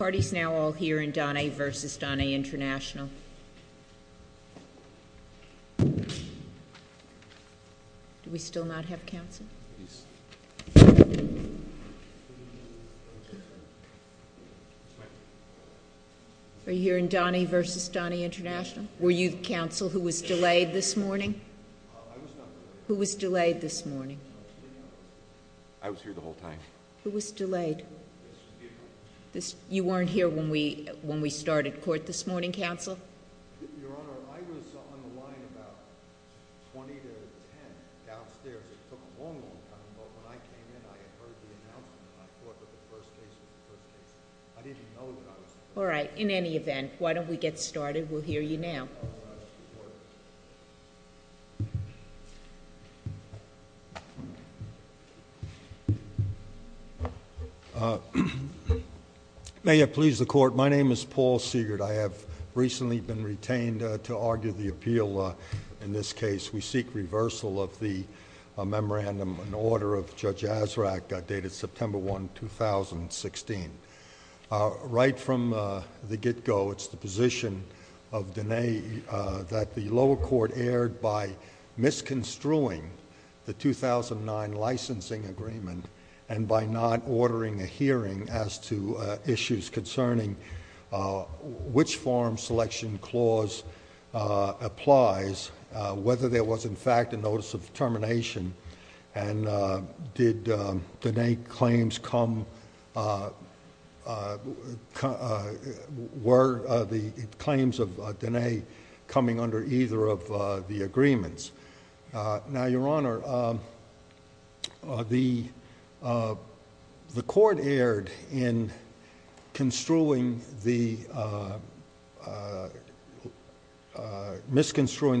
The party's now all here in Donnay v. Donnay International. Do we still not have counsel? Are you here in Donnay v. Donnay International? Were you counsel who was delayed this morning? Who was delayed this morning? I was here the whole time. Who was delayed? You weren't here when we started court this morning, counsel? Your Honor, I was on the line about 20 to 10 downstairs. It took a long, long time. But when I came in, I had heard the announcement and I thought that the first case was the first case. I didn't know who I was talking to. All right. In any event, why don't we get started? We'll hear you now. All right. Let's get started. May it please the Court. My name is Paul Siegert. I have recently been retained to argue the appeal in this case. We seek reversal of the memorandum in order of Judge Azraq, dated September 1, 2016. Right from the get-go, it's the position of Donnay that the lower court erred by misconstruing the 2009 licensing agreement and by not ordering a hearing as to issues concerning which form selection clause applies, whether there was, in fact, a notice of termination, and were the claims of Donnay coming under either of the agreements. Now, Your Honor, the court erred in misconstruing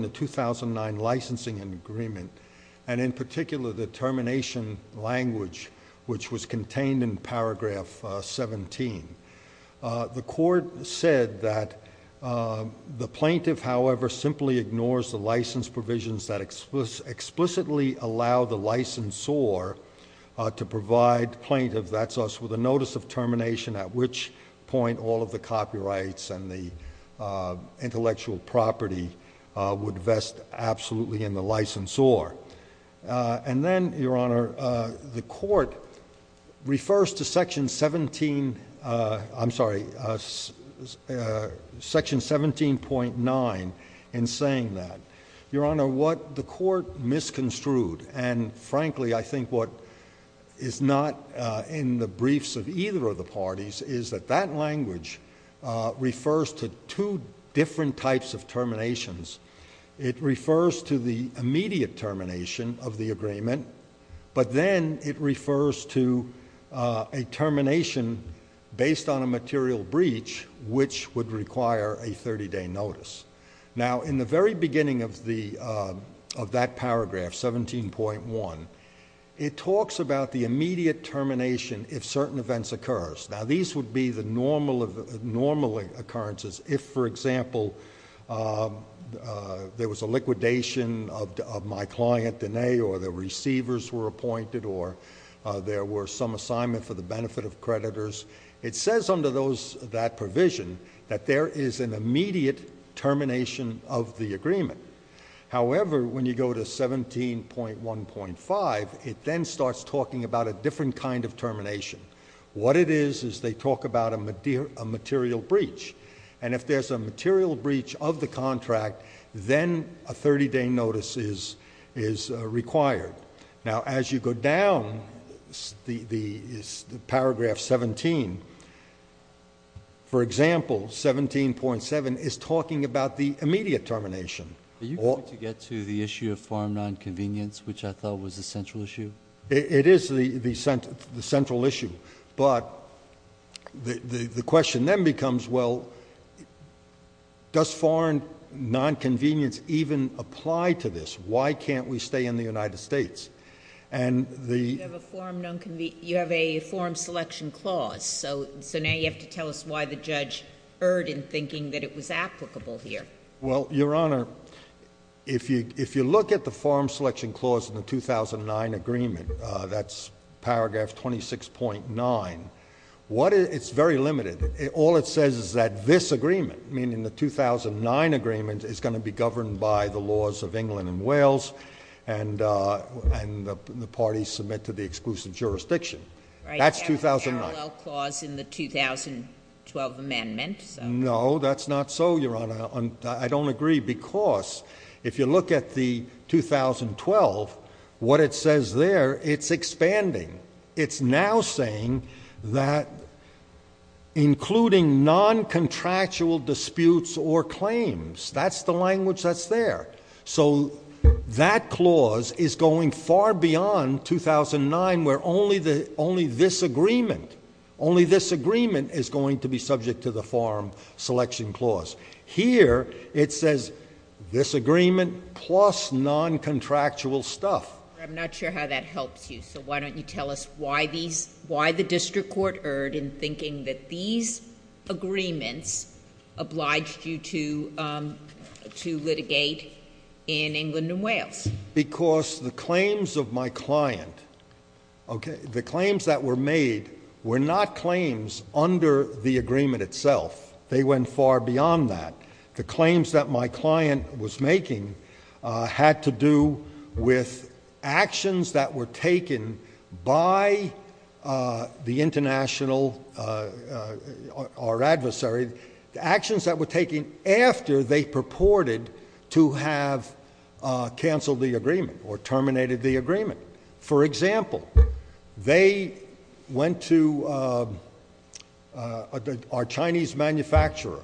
the 2009 licensing agreement and, in particular, the termination language, which was contained in paragraph 17. The court said that the plaintiff, however, simply ignores the license provisions that explicitly allow the licensor to provide the plaintiff, that's us, with a notice of termination, at which point all of the copyrights and the intellectual property would vest absolutely in the licensor. And then, Your Honor, the court refers to section 17.9 in saying that. Your Honor, what the court misconstrued, and frankly I think what is not in the briefs of either of the parties, is that that language refers to two different types of terminations. It refers to the immediate termination of the agreement, but then it refers to a termination based on a material breach, which would require a 30-day notice. Now, in the very beginning of that paragraph, 17.1, it talks about the immediate termination if certain events occur. Now, these would be the normal occurrences. If, for example, there was a liquidation of my client, Denae, or the receivers were appointed, or there were some assignment for the benefit of creditors, it says under that provision that there is an immediate termination of the agreement. However, when you go to 17.1.5, it then starts talking about a different kind of termination. What it is is they talk about a material breach, and if there's a material breach of the contract, then a 30-day notice is required. Now, as you go down the paragraph 17, for example, 17.7 is talking about the immediate termination. Are you going to get to the issue of farm nonconvenience, which I thought was the central issue? It is the central issue, but the question then becomes, well, does farm nonconvenience even apply to this? Why can't we stay in the United States? You have a farm selection clause, so now you have to tell us why the judge erred in thinking that it was applicable here. Well, Your Honor, if you look at the farm selection clause in the 2009 agreement, that's paragraph 26.9, it's very limited. All it says is that this agreement, meaning the 2009 agreement, is going to be governed by the laws of England and Wales, and the parties submit to the exclusive jurisdiction. That's 2009. A parallel clause in the 2012 amendment? No, that's not so, Your Honor. I don't agree, because if you look at the 2012, what it says there, it's expanding. It's now saying that including noncontractual disputes or claims, that's the language that's there. So that clause is going far beyond 2009, where only this agreement is going to be subject to the farm selection clause. Here it says this agreement plus noncontractual stuff. I'm not sure how that helps you, so why don't you tell us why the district court erred in thinking that these agreements obliged you to litigate in England and Wales? Because the claims of my client, okay, the claims that were made were not claims under the agreement itself. They went far beyond that. The claims that my client was making had to do with actions that were taken by the international adversary, actions that were taken after they purported to have canceled the agreement or terminated the agreement. For example, they went to our Chinese manufacturer,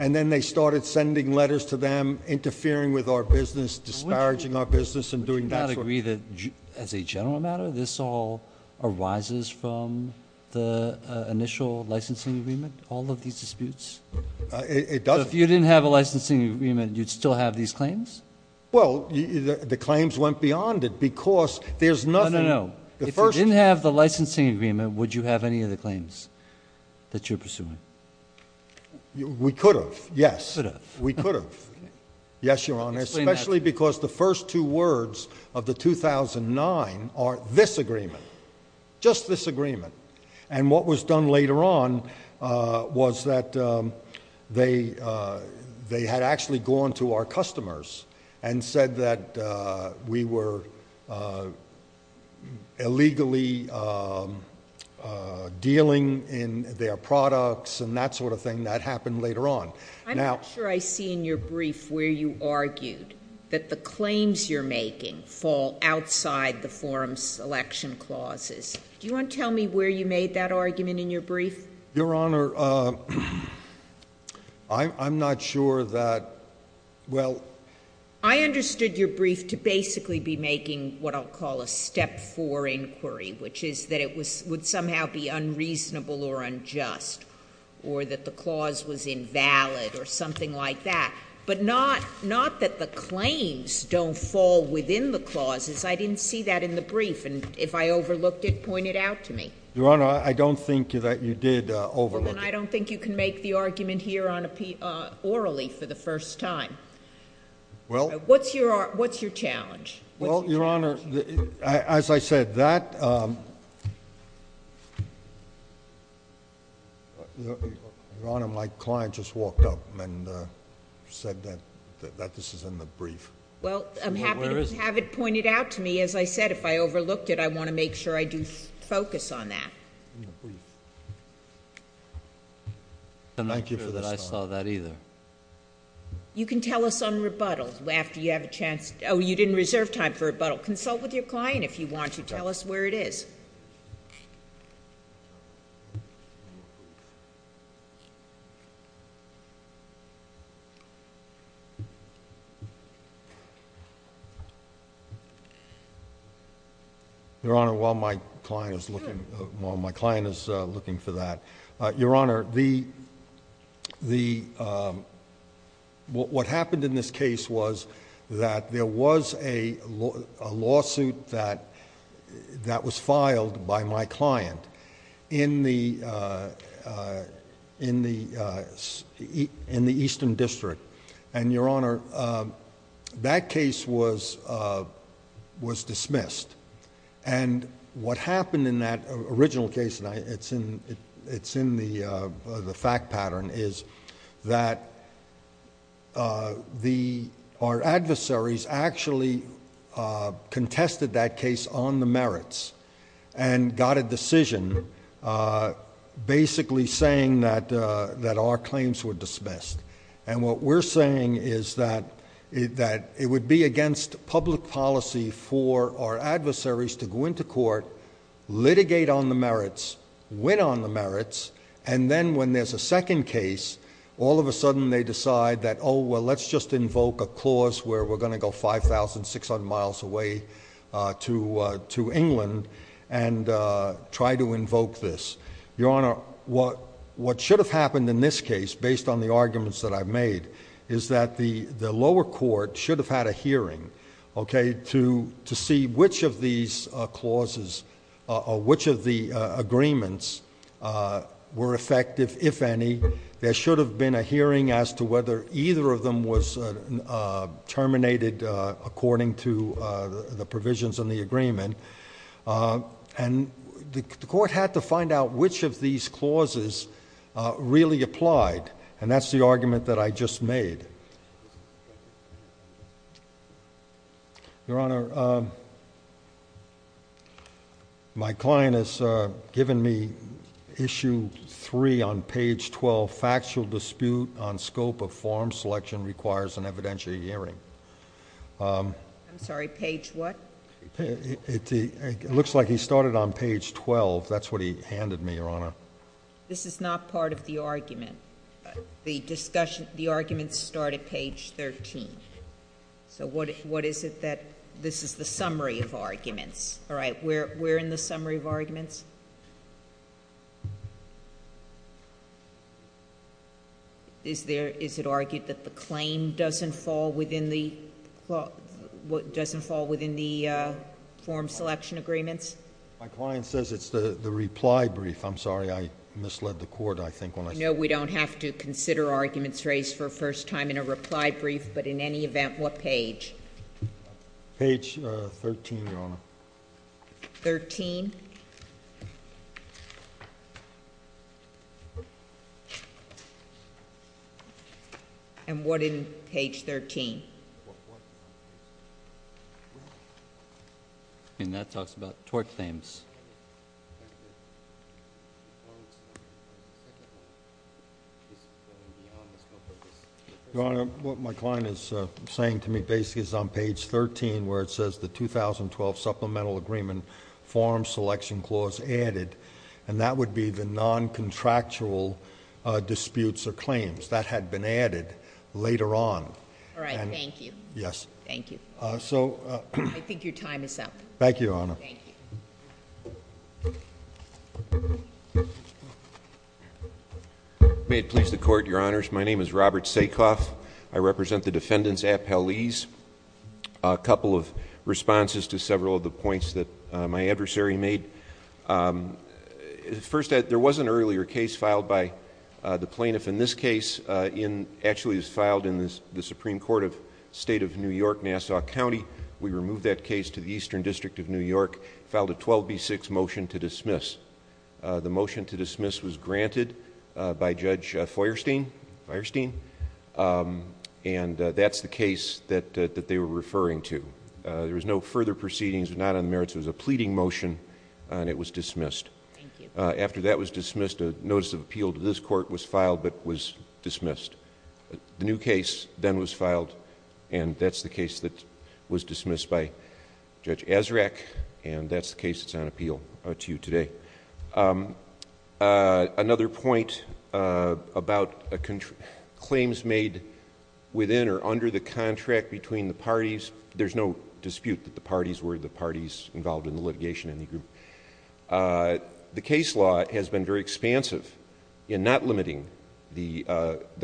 and then they started sending letters to them interfering with our business, disparaging our business, and doing that sort of thing. Would you not agree that, as a general matter, this all arises from the initial licensing agreement, all of these disputes? It doesn't. So if you didn't have a licensing agreement, you'd still have these claims? Well, the claims went beyond it because there's nothing. No, no, no. If you didn't have the licensing agreement, would you have any of the claims that you're pursuing? We could have, yes. You could have. We could have, yes, Your Honor, especially because the first two words of the 2009 are this agreement, just this agreement. And what was done later on was that they had actually gone to our customers and said that we were illegally dealing in their products and that sort of thing. That happened later on. I'm not sure I see in your brief where you argued that the claims you're making fall outside the forum selection clauses. Do you want to tell me where you made that argument in your brief? Your Honor, I'm not sure that, well— I understood your brief to basically be making what I'll call a step four inquiry, which is that it would somehow be unreasonable or unjust, or that the clause was invalid or something like that. But not that the claims don't fall within the clauses. I didn't see that in the brief. And if I overlooked it, point it out to me. Your Honor, I don't think that you did overlook it. Then I don't think you can make the argument here orally for the first time. Well— What's your challenge? Well, Your Honor, as I said, that— Your Honor, my client just walked up and said that this is in the brief. Well, I'm happy to have it pointed out to me. As I said, if I overlooked it, I want to make sure I do focus on that. I'm not sure that I saw that either. You can tell us on rebuttal after you have a chance—oh, you didn't reserve time for rebuttal. Consult with your client if you want to tell us where it is. Your Honor, while my client is looking for that— What happened in this case was that there was a lawsuit that was filed by my client in the Eastern District. And, Your Honor, that case was dismissed. What happened in that original case, and it's in the fact pattern, is that our adversaries actually contested that case on the merits and got a decision basically saying that our claims were dismissed. And what we're saying is that it would be against public policy for our adversaries to go into court, litigate on the merits, win on the merits, and then when there's a second case, all of a sudden they decide that, oh, well, let's just invoke a clause where we're going to go 5,600 miles away to England and try to invoke this. Your Honor, what should have happened in this case, based on the arguments that I've made, is that the lower court should have had a hearing to see which of these clauses or which of the agreements were effective, if any. There should have been a hearing as to whether either of them was terminated according to the provisions in the agreement. And the court had to find out which of these clauses really applied, and that's the argument that I just made. Your Honor, my client has given me Issue 3 on page 12, Factual Dispute on Scope of Form Selection Requires an Evidential Hearing. I'm sorry, page what? It looks like he started on page 12. That's what he handed me, Your Honor. This is not part of the argument. The arguments start at page 13. So what is it that this is the summary of arguments? All right, we're in the summary of arguments. Is it argued that the claim doesn't fall within the form selection agreements? My client says it's the reply brief. I'm sorry, I misled the court, I think, when I said that. No, we don't have to consider arguments raised for a first time in a reply brief, but in any event, what page? Page 13, Your Honor. 13? And what in page 13? And that talks about tort claims. Your Honor, what my client is saying to me basically is on page 13, where it says the 2012 Supplemental Agreement, Form Selection Clause added, and that would be the non-contractual disputes or claims. That had been added later on. All right, thank you. Yes. Thank you. I think your time is up. Thank you, Your Honor. Thank you. May it please the Court, Your Honors, my name is Robert Sakoff. I represent the defendants at Paliz. A couple of responses to several of the points that my adversary made. First, there was an earlier case filed by the plaintiff in this case. Actually, it was filed in the Supreme Court of State of New York, Nassau County. We removed that case to the Eastern District of New York, filed a 12B6 motion to dismiss. The motion to dismiss was granted by Judge Feuerstein. That's the case that they were referring to. There was no further proceedings. It was not on the merits. It was a pleading motion, and it was dismissed. Thank you. After that was dismissed, a notice of appeal to this court was filed, but was dismissed. The new case then was filed, and that's the case that was dismissed by Judge Azraq, and that's the case that's on appeal to you today. Another point about claims made within or under the contract between the parties. There's no dispute that the parties were the parties involved in the litigation in the group. The case law has been very expansive in not limiting the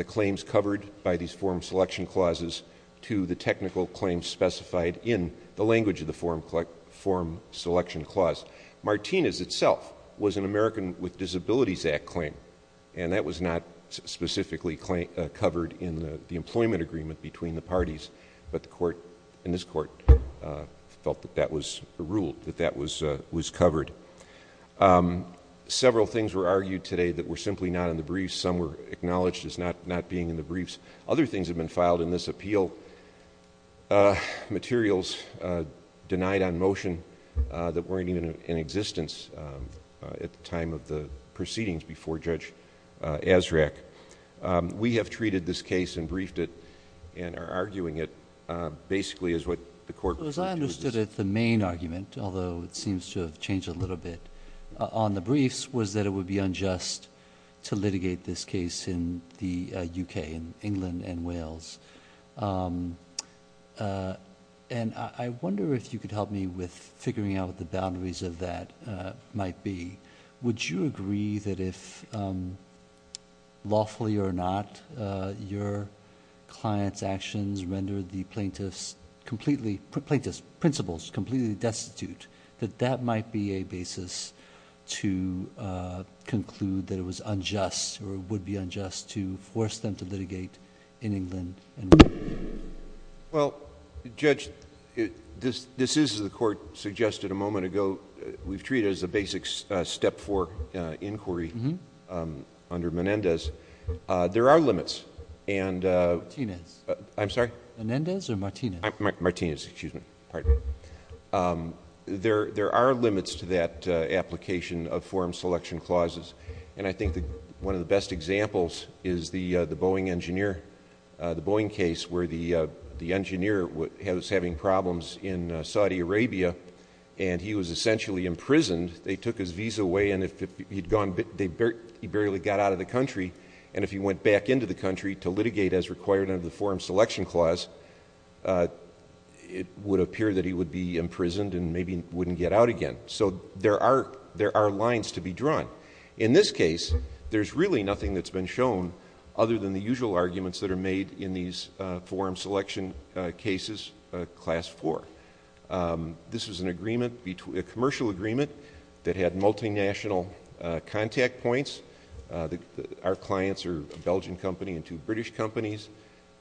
claims covered by these form selection clauses to the technical claims specified in the language of the form selection clause. Martinez itself was an American with Disabilities Act claim, and that was not specifically covered in the employment agreement between the parties, but the court and this court felt that that was ruled, that that was covered. Several things were argued today that were simply not in the briefs. Some were acknowledged as not being in the briefs. Other things have been filed in this appeal. Materials denied on motion that weren't even in existence at the time of the proceedings before Judge Azraq. We have treated this case and briefed it and are arguing it basically as what the court— As I understood it, the main argument, although it seems to have changed a little bit on the briefs, was that it would be unjust to litigate this case in the U.K., in England and Wales. And I wonder if you could help me with figuring out what the boundaries of that might be. Would you agree that if, lawfully or not, your client's actions rendered the plaintiff's completely— conclude that it was unjust or would be unjust to force them to litigate in England and Wales? Well, Judge, this is, as the court suggested a moment ago, we've treated it as a basic Step 4 inquiry under Menendez. There are limits, and— Martinez. I'm sorry? Menendez or Martinez? Martinez, excuse me. There are limits to that application of forum selection clauses, and I think one of the best examples is the Boeing case where the engineer was having problems in Saudi Arabia and he was essentially imprisoned. They took his visa away and he barely got out of the country, and if he went back into the country to litigate as required under the forum selection clause, it would appear that he would be imprisoned and maybe wouldn't get out again. So there are lines to be drawn. In this case, there's really nothing that's been shown other than the usual arguments that are made in these forum selection cases, Class 4. This was an agreement, a commercial agreement, that had multinational contact points. Our clients are a Belgian company and two British companies.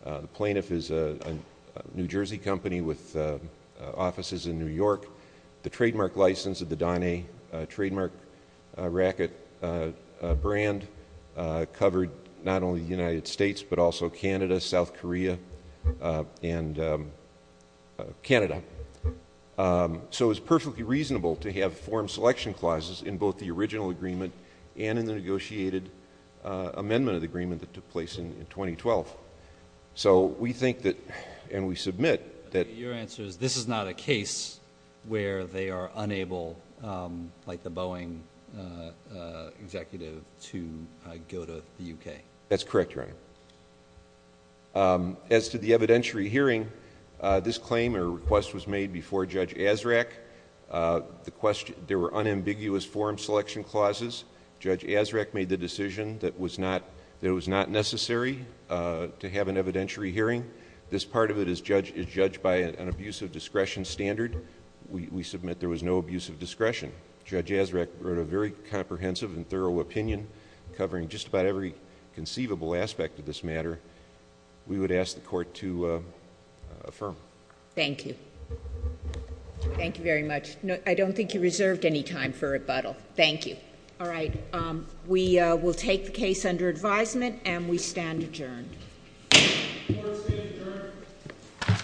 The plaintiff is a New Jersey company with offices in New York. The trademark license of the Donne trademark racket brand covered not only the United States but also Canada, South Korea, and Canada. So it was perfectly reasonable to have forum selection clauses in both the original agreement and in the negotiated amendment of the agreement that took place in 2012. So we think that, and we submit that— Your answer is this is not a case where they are unable, like the Boeing executive, to go to the U.K.? That's correct, Your Honor. As to the evidentiary hearing, this claim or request was made before Judge Azraq. There were unambiguous forum selection clauses. Judge Azraq made the decision that it was not necessary to have an evidentiary hearing. This part of it is judged by an abuse of discretion standard. We submit there was no abuse of discretion. Judge Azraq wrote a very comprehensive and thorough opinion covering just about every conceivable aspect of this matter. We would ask the Court to affirm. Thank you. Thank you very much. I don't think you reserved any time for rebuttal. Thank you. All right. We will take the case under advisement, and we stand adjourned. Court is adjourned.